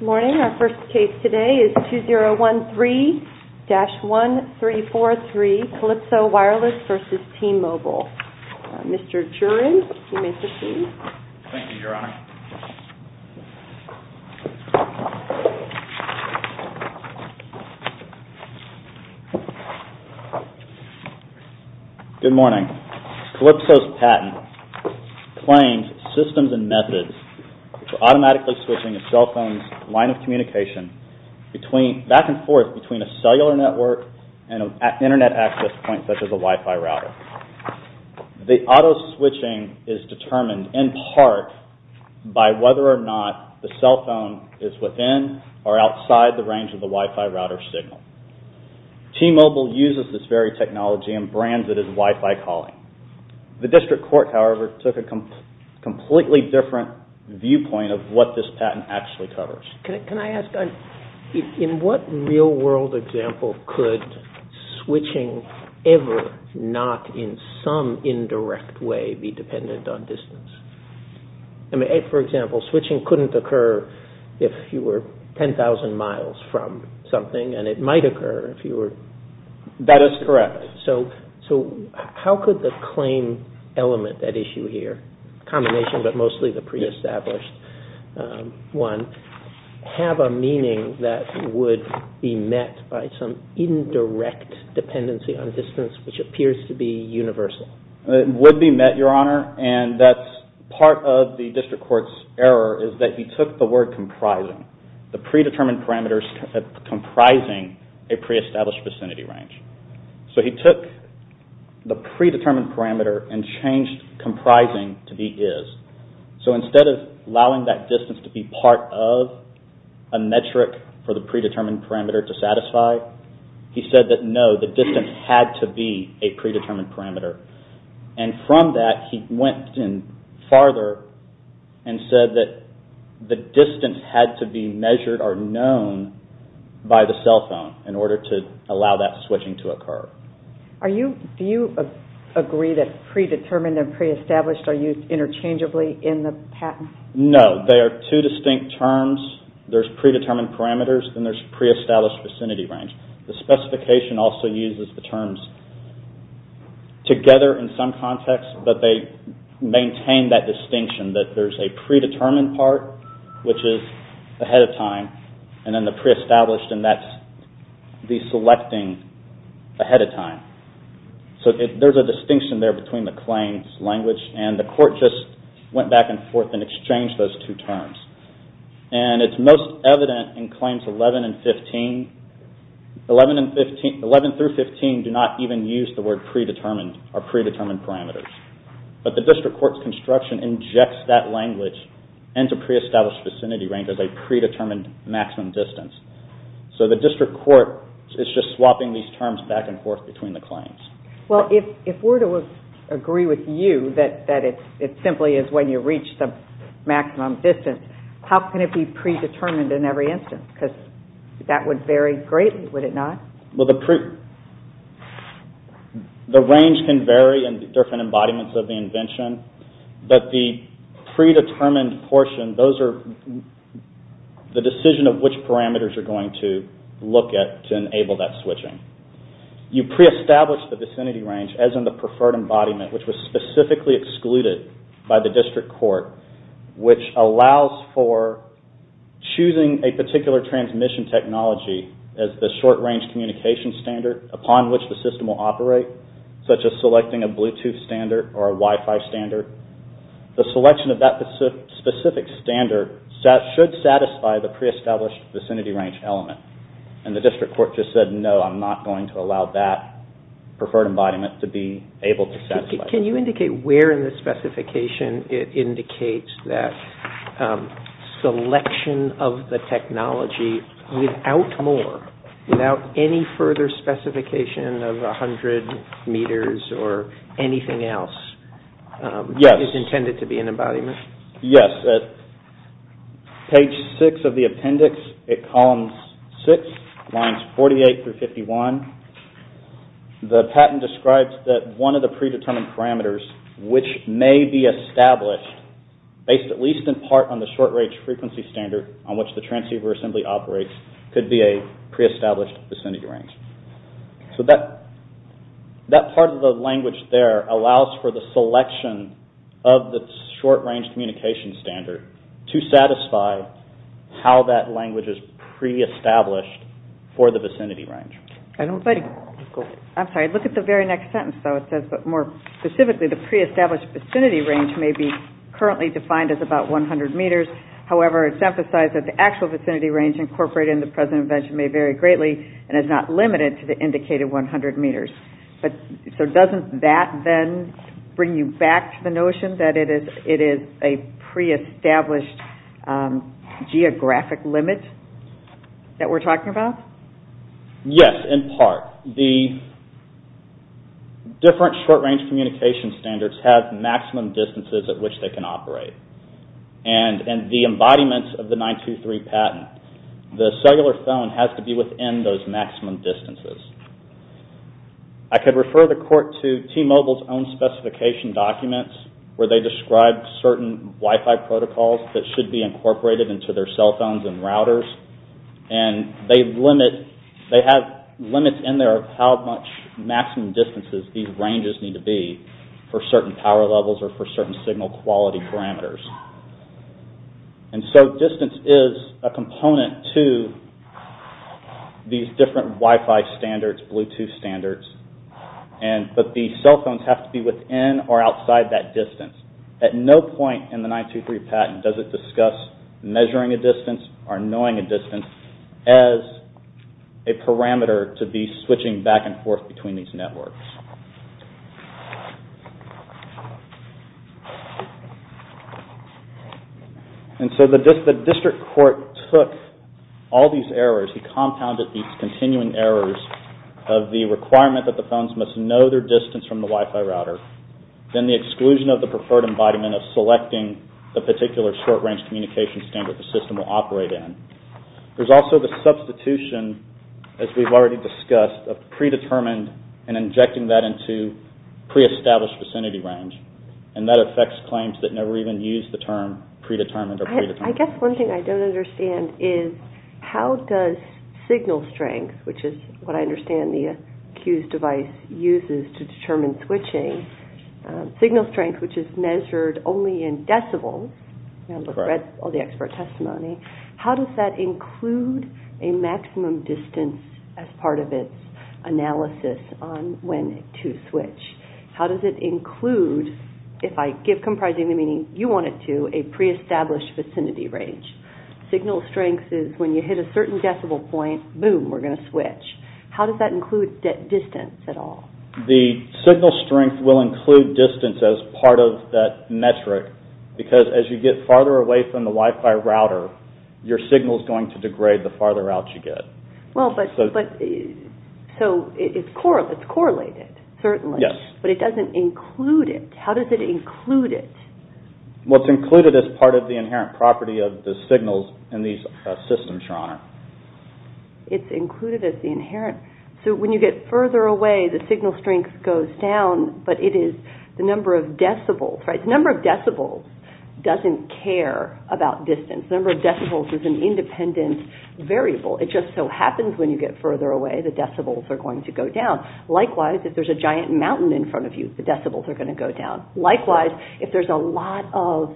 Good morning. Our first case today is 2013-1343, Calypso Wireless v. T-Mobile. Mr. Juran, you may proceed. Thank you, Your Honor. Good morning. Calypso's patent claims systems and methods for automatically switching a cell phone's line of communication back and forth between a cellular network and an Internet access point such as a Wi-Fi router. The auto-switching is determined in part by whether or not the cell phone is within or outside the range of the Wi-Fi router signal. T-Mobile uses this very technology and brands it as Wi-Fi calling. The district court, however, took a completely different viewpoint of what this patent actually covers. Can I ask, in what real world example could switching ever not in some indirect way be dependent on distance? I mean, for example, switching couldn't occur if you were 10,000 miles from something and it might occur if you were... That is correct. So how could the claim element at issue here, combination but mostly the pre-established one, have a meaning that would be met by some indirect dependency on distance which appears to be universal? It would be met, Your Honor, and that's part of the district court's error is that he took the word comprising, the predetermined parameters comprising a pre-established vicinity range. So he took the predetermined parameter and changed comprising to be is. So instead of allowing that distance to be part of a metric for the predetermined parameter to satisfy, he said that no, the distance had to be a predetermined parameter. And from that, he went in farther and said that the distance had to be measured or known by the cell phone in order to allow that switching to occur. Do you agree that predetermined and pre-established are used interchangeably in the patent? No. They are two distinct terms. There's predetermined parameters and there's pre-established vicinity range. The specification also uses the terms together in some context but they maintain that distinction that there's a predetermined part which is ahead of time and then the pre-established and that's the selecting ahead of time. So there's a distinction there between the claims language and the court just went back and forth and exchanged those two terms. And it's most evident in claims 11 and 15. 11 through 15 do not even use the word predetermined or predetermined parameters. But the district court's construction injects that language into pre-established vicinity range as a predetermined maximum distance. So the district court is just swapping these terms back and forth between the claims. Well, if we're to agree with you that it simply is when you reach the maximum distance, how can it be predetermined in every instance? Because that would vary greatly, would it not? Well, the range can vary in different embodiments of the invention. But the predetermined portion, those are the decision of which parameters you're going to look at to enable that switching. You pre-establish the vicinity range as in the preferred embodiment, which was specifically excluded by the district court, which allows for choosing a particular transmission technology as the short-range communication standard upon which the system will operate, such as selecting a Bluetooth standard or a Wi-Fi standard. And the district court just said, no, I'm not going to allow that preferred embodiment to be able to satisfy. Can you indicate where in the specification it indicates that selection of the technology without more, without any further specification of 100 meters or anything else, is intended to be an embodiment? Yes, at page 6 of the appendix at column 6, lines 48 through 51, the patent describes that one of the predetermined parameters, which may be established based at least in part on the short-range frequency standard on which the transceiver assembly operates, could be a pre-established vicinity range. So that part of the language there allows for the selection of the short-range communication standard to satisfy how that language is pre-established for the vicinity range. I'm sorry, look at the very next sentence, though. It says that more specifically, the pre-established vicinity range may be currently defined as about 100 meters. However, it's emphasized that the actual vicinity range incorporated in the present invention may vary greatly and is not limited to the indicated 100 meters. So doesn't that then bring you back to the notion that it is a pre-established geographic limit that we're talking about? Yes, in part. The different short-range communication standards have maximum distances at which they can operate. And the embodiment of the 923 patent, the cellular phone has to be within those maximum distances. I could refer the court to T-Mobile's own specification documents where they describe certain Wi-Fi protocols that should be incorporated into their cell phones and routers. And they have limits in there of how much maximum distances these ranges need to be for certain power levels or for certain signal quality parameters. And so distance is a component to these different Wi-Fi standards, Bluetooth standards. But the cell phones have to be within or outside that distance. At no point in the 923 patent does it discuss measuring a distance between these networks. And so the district court took all these errors. He compounded these continuing errors of the requirement that the phones must know their distance from the Wi-Fi router, then the exclusion of the preferred embodiment of selecting the particular short-range communication standard the system will operate in. There's also the substitution, as we've already discussed, of predetermined and injecting that into pre-established vicinity range. And that affects claims that never even use the term predetermined or predetermined. I guess one thing I don't understand is how does signal strength, which is what I understand the accused device uses to determine switching, signal strength, which is measured only in decibels. I've read all the expert testimony. How does that include a maximum distance as part of its analysis on when to switch? How does it include, if I give comprising the meaning you want it to, a pre-established vicinity range? Signal strength is when you hit a certain decibel point, boom, we're going to switch. How does that include distance at all? The signal strength will include distance as part of that metric because as you get farther away from the Wi-Fi router, your signal is going to degrade the farther out you get. So it's correlated, certainly. Yes. But it doesn't include it. How does it include it? Well, it's included as part of the inherent property of the signals in these systems, Your Honor. It's included as the inherent. So when you get further away, the signal strength goes down, but it is the number of decibels, right? It doesn't care about distance. The number of decibels is an independent variable. It just so happens when you get further away, the decibels are going to go down. Likewise, if there's a giant mountain in front of you, the decibels are going to go down. Likewise, if there's a lot of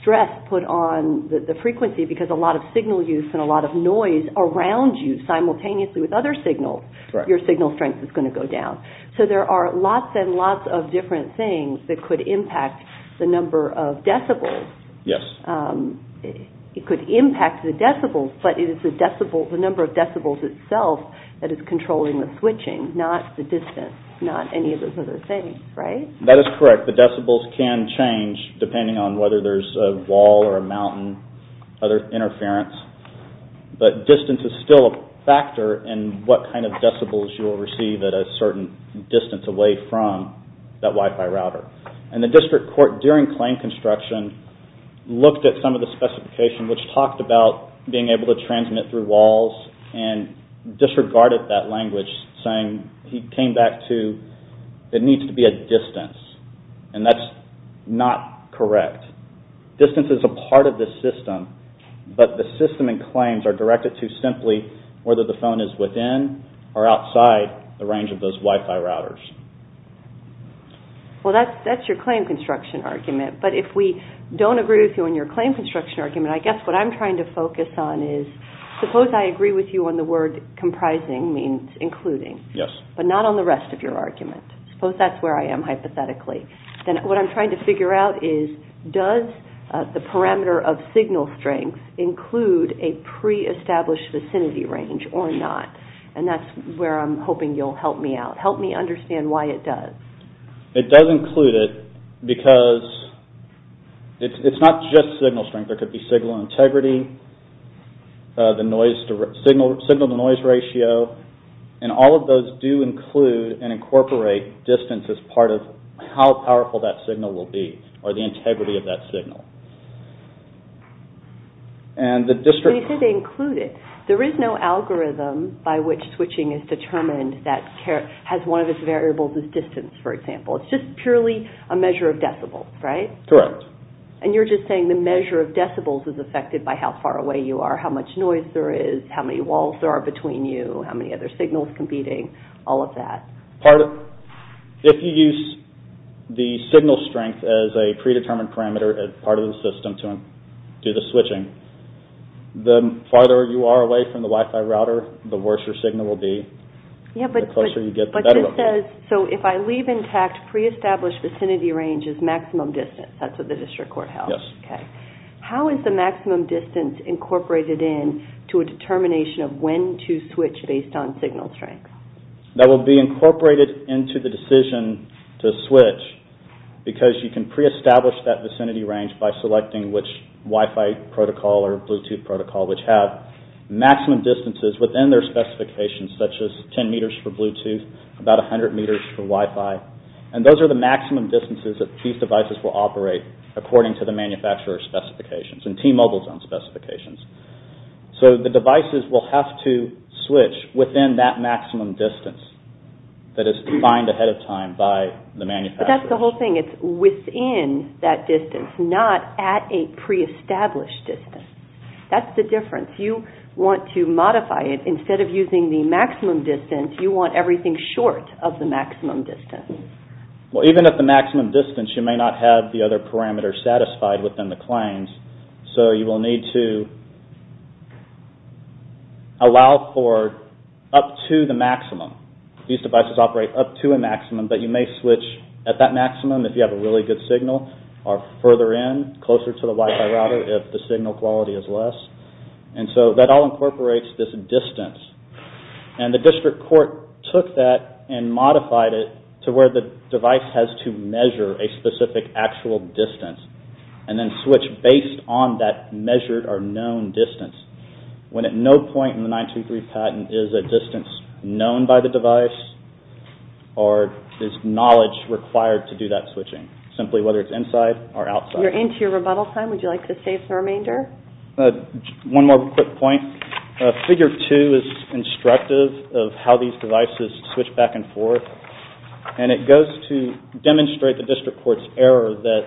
stress put on the frequency because a lot of signal use and a lot of noise around you simultaneously with other signals, your signal strength is going to go down. So there are lots and lots of different things that could impact the number of decibels. Yes. It could impact the decibels, but it is the number of decibels itself that is controlling the switching, not the distance, not any of those other things, right? That is correct. The decibels can change depending on whether there's a wall or a mountain, other interference. But distance is still a factor in what kind of decibels you'll receive at a certain distance away from that Wi-Fi router. And the district court, during claim construction, looked at some of the specification which talked about being able to transmit through walls and disregarded that language, saying it needs to be at distance. And that's not correct. Distance is a part of the system, but the system and claims are directed to simply whether the phone is within or outside the range of those Wi-Fi routers. Well, that's your claim construction argument. But if we don't agree with you on your claim construction argument, I guess what I'm trying to focus on is suppose I agree with you on the word comprising means including. Yes. But not on the rest of your argument. Suppose that's where I am hypothetically. Then what I'm trying to figure out is does the parameter of signal strength include a pre-established vicinity range or not? And that's where I'm hoping you'll help me out. And why it does. It does include it because it's not just signal strength. There could be signal integrity, signal-to-noise ratio, and all of those do include and incorporate distance as part of how powerful that signal will be or the integrity of that signal. And you said they include it. There is no algorithm by which switching is determined that has one of its variables as distance, for example. It's just purely a measure of decibels, right? Correct. And you're just saying the measure of decibels is affected by how far away you are, how much noise there is, how many walls there are between you, how many other signals competing, all of that. If you use the signal strength as a predetermined parameter as part of the system to do the switching, the farther you are away from the Wi-Fi router, the worse your signal will be, the closer you get. But this says, so if I leave intact, pre-established vicinity range is maximum distance. That's what the district court held. Yes. Okay. How is the maximum distance incorporated in to a determination of when to switch based on signal strength? That will be incorporated into the decision to switch because you can pre-establish that vicinity range by selecting which Wi-Fi protocol or Bluetooth protocol which have maximum distances within their specifications such as 10 meters for Bluetooth, about 100 meters for Wi-Fi, and those are the maximum distances that these devices will operate according to the manufacturer's specifications and T-Mobile's own specifications. So the devices will have to switch within that maximum distance that is defined ahead of time by the manufacturer. But that's the whole thing. It's within that distance, not at a pre-established distance. That's the difference. You want to modify it. Instead of using the maximum distance, you want everything short of the maximum distance. Well, even at the maximum distance, you may not have the other parameters satisfied within the claims, so you will need to allow for up to the maximum. These devices operate up to a maximum, but you may switch at that maximum if you have a really good signal or further in, closer to the Wi-Fi router if the signal quality is less. And so that all incorporates this distance, and the district court took that and modified it to where the device has to measure a specific actual distance and then switch based on that measured or known distance when at no point in the 923 patent is a distance known by the device or is knowledge required to do that switching, simply whether it's inside or outside. You're into your rebuttal time. Would you like to save the remainder? One more quick point. Figure 2 is instructive of how these devices switch back and forth, and it goes to demonstrate the district court's error that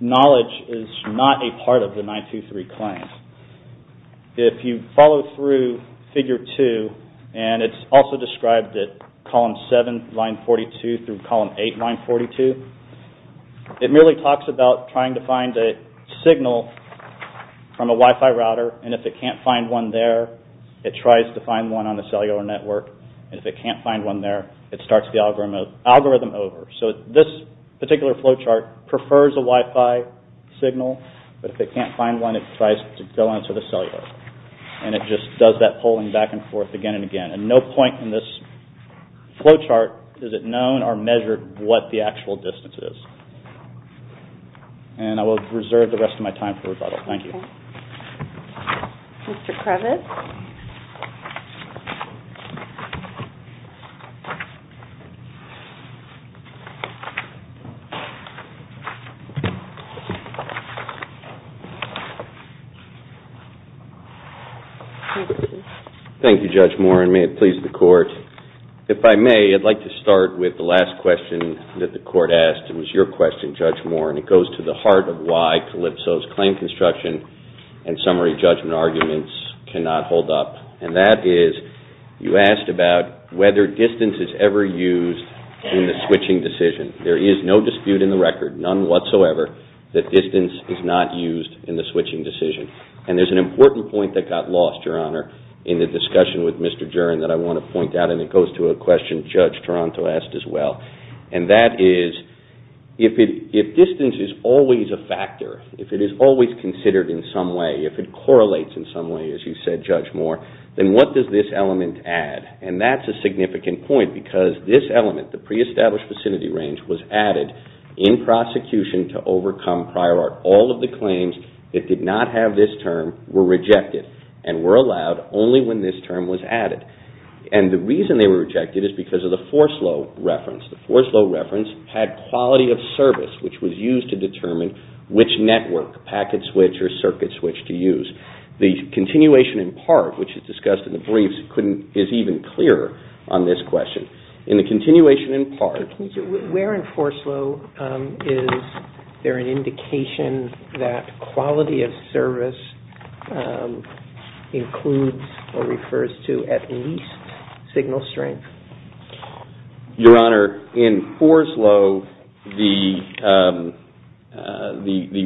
knowledge is not a part of the 923 claims. If you follow through Figure 2, and it's also described at column 7, line 42 through column 8, line 42, it merely talks about trying to find a signal from a Wi-Fi router, and if it can't find one there, it tries to find one on the cellular network, and if it can't find one there, it starts the algorithm over. So this particular flowchart prefers a Wi-Fi signal, but if it can't find one, it tries to go on to the cellular, and it just does that polling back and forth again and again, and no point in this flowchart is it known or measured what the actual distance is. And I will reserve the rest of my time for rebuttal. Thank you. Mr. Krevitz? Thank you, Judge Moore, and may it please the court. If I may, I'd like to start with the last question that the court asked. It was your question, Judge Moore, and it goes to the heart of why Calypso's claim construction and summary judgment arguments cannot hold up, and that is you asked about whether distance is ever used in the switching decision. There is no dispute in the record, none whatsoever, that distance is not used in the switching decision, and there's an important point that got lost, Your Honor, in the discussion with Mr. Juren that I want to point out, and it goes to a question Judge Toronto asked as well, and that is if distance is always a factor, if it is always considered in some way, if it correlates in some way, as you said, Judge Moore, then what does this element add? And that's a significant point because this element, the pre-established vicinity range, was added in prosecution to overcome prior art all of the claims that did not have this term were rejected and were allowed only when this term was added. And the reason they were rejected is because of the Forslow reference. The Forslow reference had quality of service, which was used to determine which network, packet switch or circuit switch, to use. The continuation in part, which is discussed in the briefs, is even clearer on this question. In the continuation in part... Quality of service includes or refers to at least signal strength. Your Honor, in Forslow, the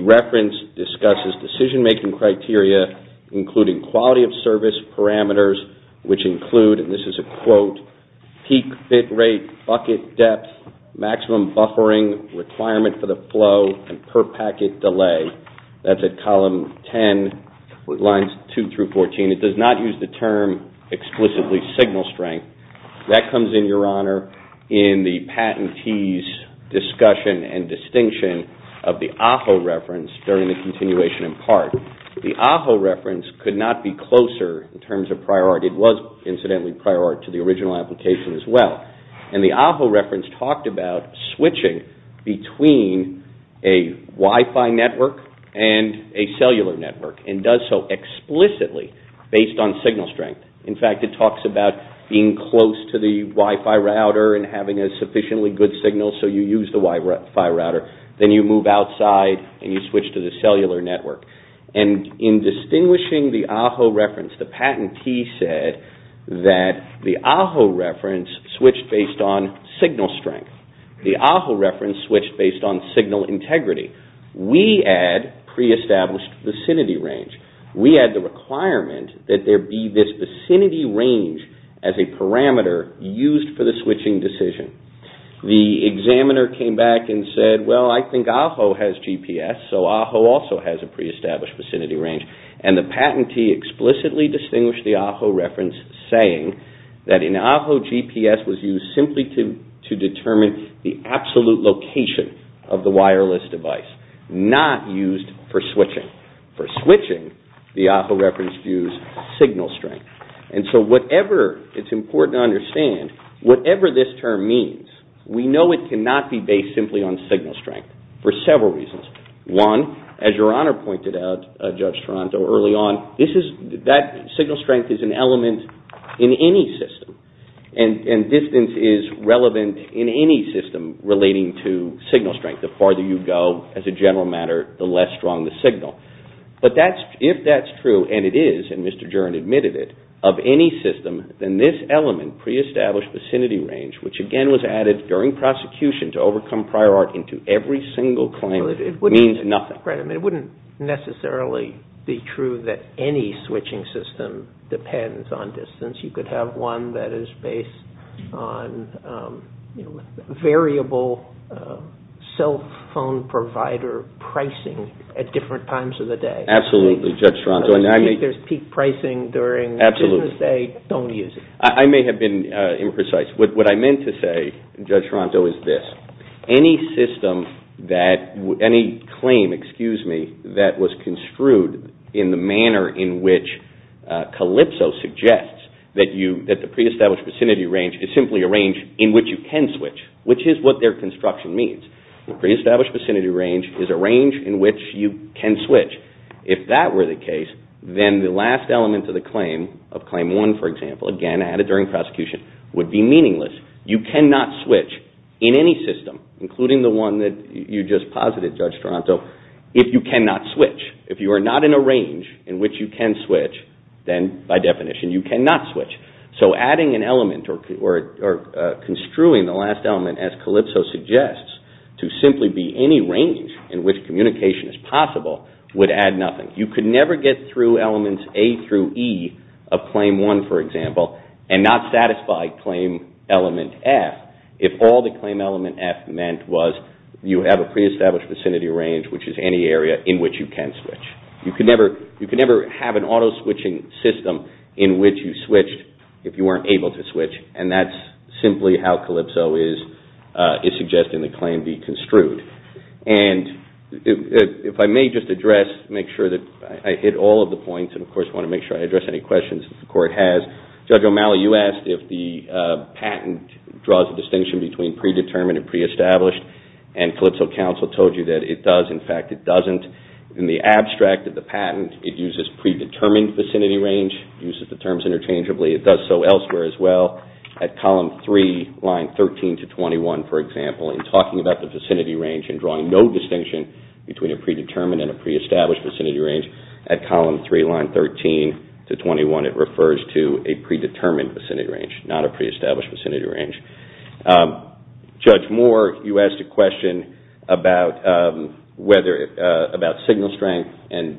reference discusses decision-making criteria including quality of service parameters, which include, and this is a quote, peak bit rate, bucket depth, maximum buffering requirement for the flow, and per packet delay. That's at column 10, lines 2 through 14. It does not use the term explicitly signal strength. That comes in, Your Honor, in the patentee's discussion and distinction of the AHO reference during the continuation in part. The AHO reference could not be closer in terms of prior art. It was, incidentally, prior art to the original application as well. The AHO reference talked about switching between a Wi-Fi network and a cellular network and does so explicitly based on signal strength. In fact, it talks about being close to the Wi-Fi router and having a sufficiently good signal so you use the Wi-Fi router. Then you move outside and you switch to the cellular network. In distinguishing the AHO reference, the patentee said that the AHO reference switched based on signal strength. The AHO reference switched based on signal integrity. We add pre-established vicinity range. We add the requirement that there be this vicinity range as a parameter used for the switching decision. The examiner came back and said, well, I think AHO has GPS, so AHO also has a pre-established vicinity range. The patentee explicitly distinguished the AHO reference saying that in AHO, GPS was used simply to determine the absolute location of the wireless device, not used for switching. For switching, the AHO reference used signal strength. It's important to understand, whatever this term means, we know it cannot be based simply on signal strength for several reasons. One, as Your Honor pointed out, Judge Toronto, early on, signal strength is an element in any system, and distance is relevant in any system relating to signal strength. The farther you go, as a general matter, the less strong the signal. But if that's true, and it is, and Mr. Juren admitted it, of any system, then this element, pre-established vicinity range, which again was added during prosecution to overcome prior art into every single claim, means nothing. It wouldn't necessarily be true that any switching system depends on distance. You could have one that is based on variable cell phone provider pricing at different times of the day. Absolutely, Judge Toronto. If there's peak pricing during business day, don't use it. I may have been imprecise. What I meant to say, Judge Toronto, is this. Any system that, any claim, excuse me, that was construed in the manner in which Calypso suggests that the pre-established vicinity range is simply a range in which you can switch, which is what their construction means. The pre-established vicinity range is a range in which you can switch. If that were the case, then the last element of the claim, of Claim 1, for example, again added during prosecution, would be meaningless. You cannot switch in any system, including the one that you just posited, Judge Toronto, if you cannot switch. If you are not in a range in which you can switch, then by definition you cannot switch. So adding an element or construing the last element as Calypso suggests to simply be any range in which communication is possible would add nothing. You could never get through elements A through E of Claim 1, for example, and not satisfy Claim Element F if all that Claim Element F meant was you have a pre-established vicinity range, which is any area in which you can switch. You could never have an auto-switching system in which you switched if you weren't able to switch, and that's simply how Calypso is suggesting the claim be construed. And if I may just address, make sure that I hit all of the points, and of course I want to make sure I address any questions that the Court has. Judge O'Malley, you asked if the patent draws a distinction between predetermined and pre-established, and Calypso counsel told you that it does. In fact, it doesn't. In the abstract of the patent, it uses predetermined vicinity range, uses the terms interchangeably, it does so elsewhere as well. At Column 3, Line 13 to 21, for example, in talking about the vicinity range and drawing no distinction between a predetermined and a pre-established vicinity range, at Column 3, Line 13 to 21, it refers to a predetermined vicinity range, not a pre-established vicinity range. Judge Moore, you asked a question about signal strength, and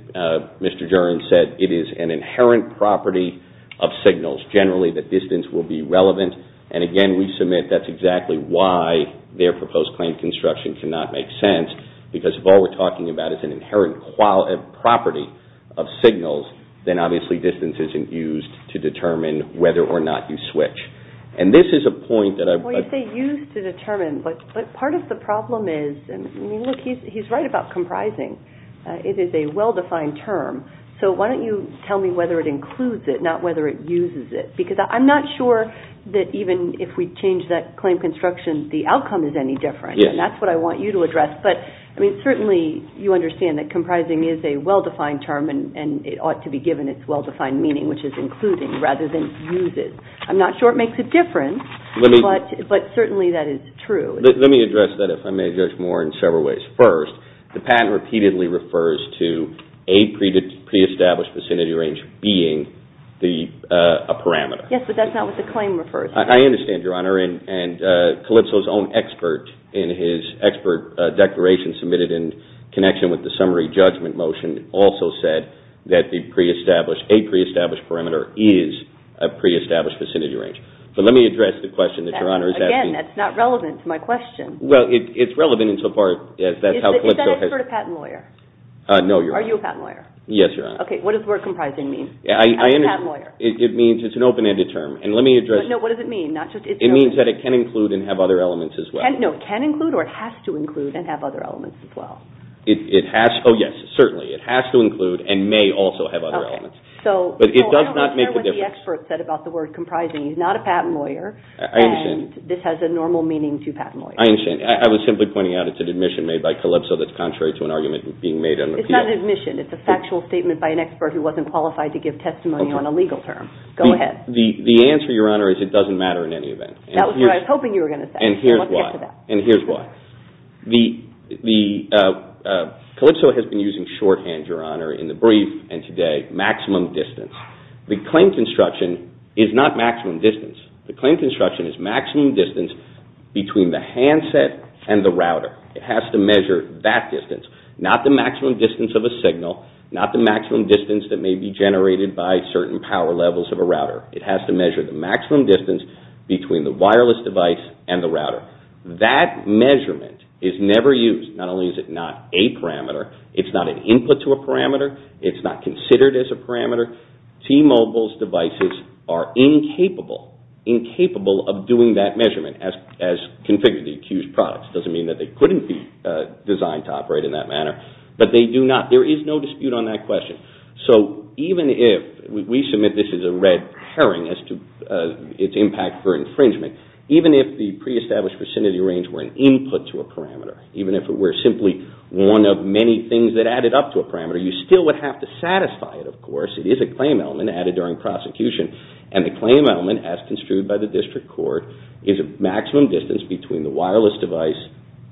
Mr. Duren said it is an inherent property of signals. Generally, the distance will be relevant, and again, we submit that's exactly why their proposed claim construction cannot make sense, because if all we're talking about is an inherent property of signals, then obviously distance isn't used to determine whether or not you switch. And this is a point that I... Well, you say used to determine, but part of the problem is, I mean, look, he's right about comprising. It is a well-defined term, so why don't you tell me whether it includes it, not whether it uses it, because I'm not sure that even if we change that claim construction, the outcome is any different, and that's what I want you to address. But certainly you understand that comprising is a well-defined term, and it ought to be given its well-defined meaning, which is including, rather than uses. I'm not sure it makes a difference, but certainly that is true. Let me address that, if I may, Judge Moore, in several ways. First, the patent repeatedly refers to a pre-established vicinity range being a parameter. Yes, but that's not what the claim refers to. I understand, Your Honor, and Calypso's own expert in his expert declaration submitted in connection with the summary judgment motion also said that a pre-established parameter is a pre-established vicinity range. But let me address the question that Your Honor is asking. Again, that's not relevant to my question. Well, it's relevant insofar as that's how Calypso has... Is that an expert or a patent lawyer? No, Your Honor. Are you a patent lawyer? Yes, Your Honor. Okay, what does the word comprising mean? I'm a patent lawyer. It means it's an open-ended term, and let me address... No, what does it mean? It means that it can include and have other elements as well. No, it can include or it has to include and have other elements as well. It has, oh yes, certainly. It has to include and may also have other elements. But it does not make a difference. I'm not sure what the expert said about the word comprising. He's not a patent lawyer, and this has a normal meaning to patent lawyers. I understand. I was simply pointing out it's an admission made by Calypso that's contrary to an argument being made under the appeal. It's not an admission. It's a factual statement by an expert who wasn't qualified to give testimony on a legal term. Go ahead. The answer, Your Honor, is it doesn't matter in any event. That was what I was hoping you were going to say. And here's why. Let's get to that. And here's why. Calypso has been using shorthand, Your Honor, in the brief and today, maximum distance. The claim construction is not maximum distance. The claim construction is maximum distance between the handset and the router. It has to measure that distance, not the maximum distance of a signal, not the maximum distance that may be generated by certain power levels of a router. It has to measure the maximum distance between the wireless device and the router. That measurement is never used. Not only is it not a parameter, it's not an input to a parameter. It's not considered as a parameter. T-Mobile's devices are incapable of doing that measurement as configured to the accused products. It doesn't mean that they couldn't be designed to operate in that manner, but they do not. There is no dispute on that question. So even if we submit this is a red herring as to its impact for infringement, even if the pre-established vicinity range were an input to a parameter, even if it were simply one of many things that added up to a parameter, you still would have to satisfy it, of course. It is a claim element added during prosecution. And the claim element, as construed by the district court, is a maximum distance between the wireless device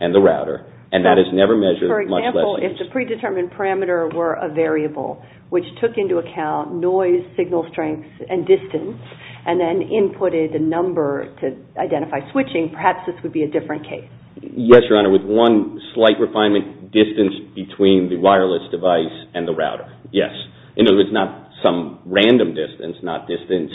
and the router, and that is never measured, much less used. If the predetermined parameter were a variable, which took into account noise, signal strength, and distance, and then inputted a number to identify switching, perhaps this would be a different case. Yes, Your Honor. With one slight refinement, distance between the wireless device and the router, yes. It's not some random distance, not distance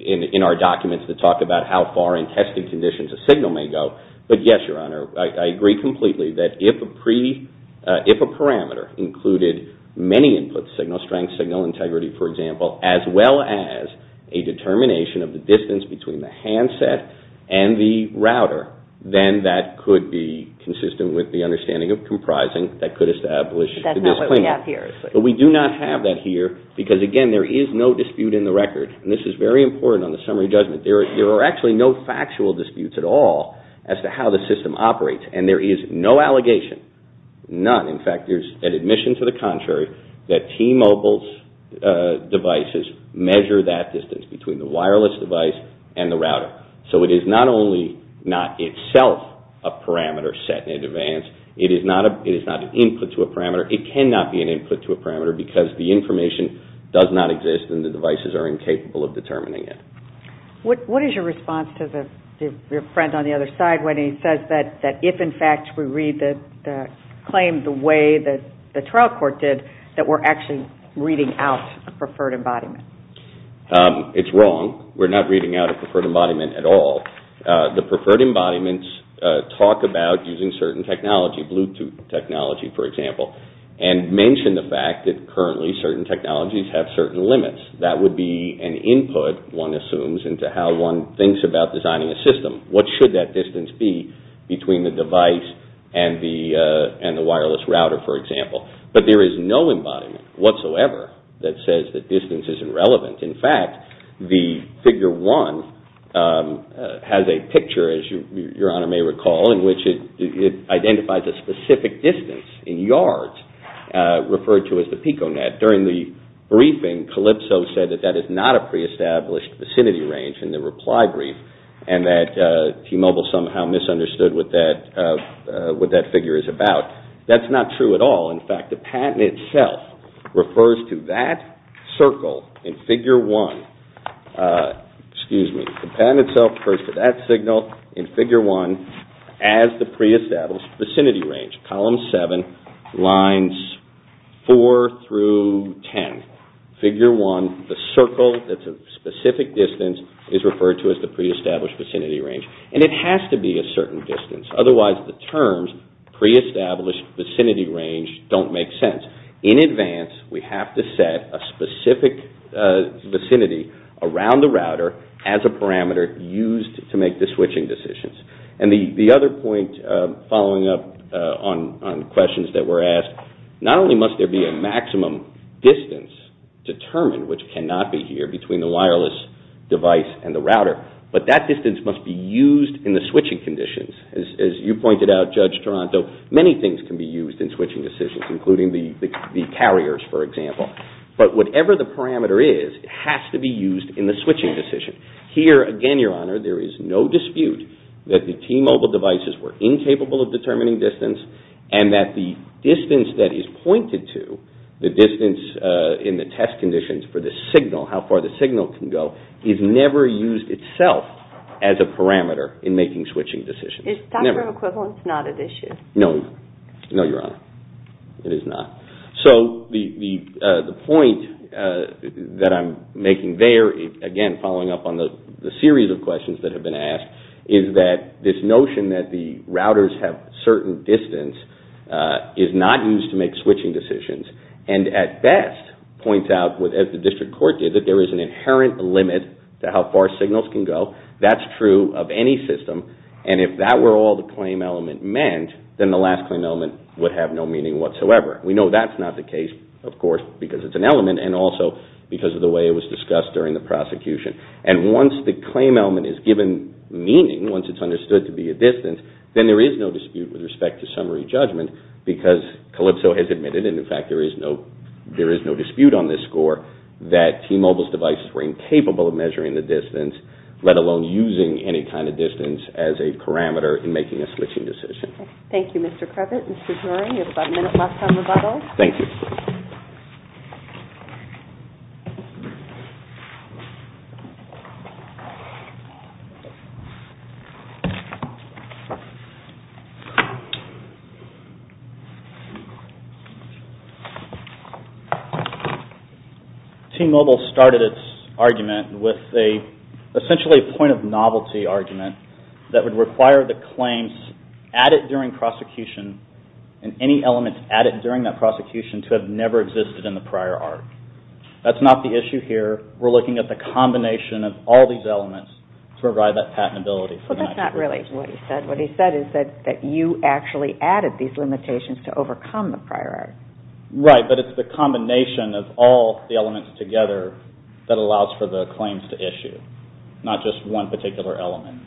in our documents that talk about how far in testing conditions a signal may go. But yes, Your Honor, I agree completely that if a parameter included many inputs, signal strength, signal integrity, for example, as well as a determination of the distance between the handset and the router, then that could be consistent with the understanding of comprising that could establish the disclaimer. But that's not what we have here. But we do not have that here because, again, there is no dispute in the record, and this is very important on the summary judgment. There are actually no factual disputes at all as to how the system operates, and there is no allegation, none. In fact, there's an admission to the contrary that T-Mobile's devices measure that distance between the wireless device and the router. So it is not only not itself a parameter set in advance, it is not an input to a parameter. It cannot be an input to a parameter because the information does not exist and the devices are incapable of determining it. What is your response to your friend on the other side when he says that if, in fact, we read the claim the way that the trial court did, that we're actually reading out a preferred embodiment? It's wrong. We're not reading out a preferred embodiment at all. The preferred embodiments talk about using certain technology, Bluetooth technology, for example, and mention the fact that currently certain technologies have certain limits. That would be an input, one assumes, into how one thinks about designing a system. What should that distance be between the device and the wireless router, for example? But there is no embodiment whatsoever that says that distance is irrelevant. In fact, the Figure 1 has a picture, as your Honor may recall, in which it identifies a specific distance in yards, referred to as the PicoNet. During the briefing, Calypso said that that is not a pre-established vicinity range in the reply brief and that T-Mobile somehow misunderstood what that figure is about. That's not true at all. In fact, the patent itself refers to that circle in Figure 1. Excuse me. The patent itself refers to that signal in Figure 1 as the pre-established vicinity range, column 7, lines 4 through 10. Figure 1, the circle that's a specific distance, is referred to as the pre-established vicinity range. And it has to be a certain distance. Otherwise, the terms pre-established vicinity range don't make sense. In advance, we have to set a specific vicinity around the router as a parameter used to make the switching decisions. And the other point following up on questions that were asked, not only must there be a maximum distance determined, which cannot be here between the wireless device and the router, but that distance must be used in the switching conditions. As you pointed out, Judge Toronto, many things can be used in switching decisions, including the carriers, for example. But whatever the parameter is, it has to be used in the switching decision. Here, again, Your Honor, there is no dispute that the T-Mobile devices were incapable of determining distance, and that the distance that is pointed to, the distance in the test conditions for the signal, how far the signal can go, is never used itself as a parameter in making switching decisions. Is doctrine of equivalence not at issue? No. No, Your Honor. It is not. It is not. So the point that I'm making there, again, following up on the series of questions that have been asked, is that this notion that the routers have certain distance is not used to make switching decisions, and at best points out, as the district court did, that there is an inherent limit to how far signals can go. That's true of any system, and if that were all the claim element meant, then the last claim element would have no meaning whatsoever. We know that's not the case, of course, because it's an element, and also because of the way it was discussed during the prosecution. And once the claim element is given meaning, once it's understood to be a distance, then there is no dispute with respect to summary judgment, because Calypso has admitted, and in fact there is no dispute on this score, that T-Mobile's devices were incapable of measuring the distance, let alone using any kind of distance as a parameter in making a switching decision. Thank you, Mr. Crevett. Mr. Turing, you have about a minute left on rebuttal. Thank you. T-Mobile started its argument with essentially a point of novelty argument that would require the claims added during prosecution, and any elements added during that prosecution to have never existed in the prior art. That's not the issue here. We're looking at the combination of all these elements to provide that patentability. Well, that's not really what he said. What he said is that you actually added these limitations to overcome the prior art. Right, but it's the combination of all the elements together that allows for the claims to issue, not just one particular element.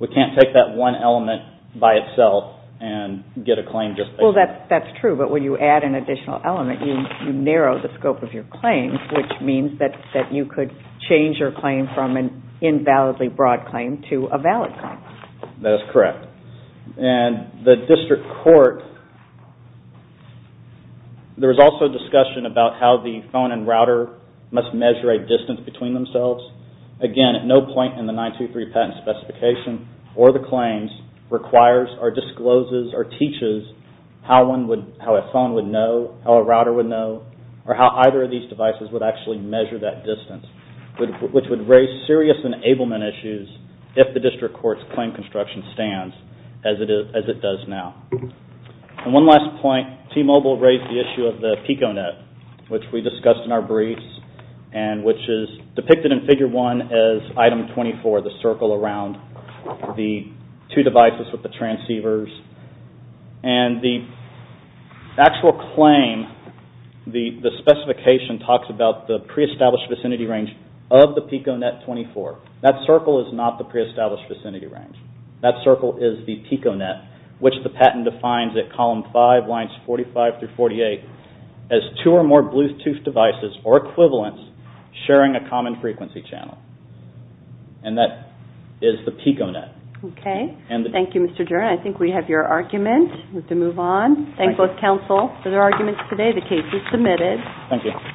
We can't take that one element by itself and get a claim just based on that. Well, that's true, but when you add an additional element, you narrow the scope of your claims, which means that you could change your claim from an invalidly broad claim to a valid claim. That is correct. And the district court, there was also discussion about how the phone and router must measure a distance between themselves. Again, at no point in the 923 patent specification or the claims requires or discloses or teaches how a phone would know, how a router would know, or how either of these devices would actually measure that distance, which would raise serious enablement issues if the district court's claim construction stands, as it does now. And one last point, T-Mobile raised the issue of the PICO net, which we discussed in our briefs and which is depicted in Figure 1 as Item 24, the circle around the two devices with the transceivers. And the actual claim, the specification talks about the pre-established vicinity range of the PICO net 24. That circle is not the pre-established vicinity range. That circle is the PICO net, which the patent defines at Column 5, lines 45 through 48, as two or more Bluetooth devices or equivalents sharing a common frequency channel. And that is the PICO net. Okay. Thank you, Mr. Jernan. I think we have your argument. We have to move on. Thank both counsel for their arguments today. The case is submitted. Thank you.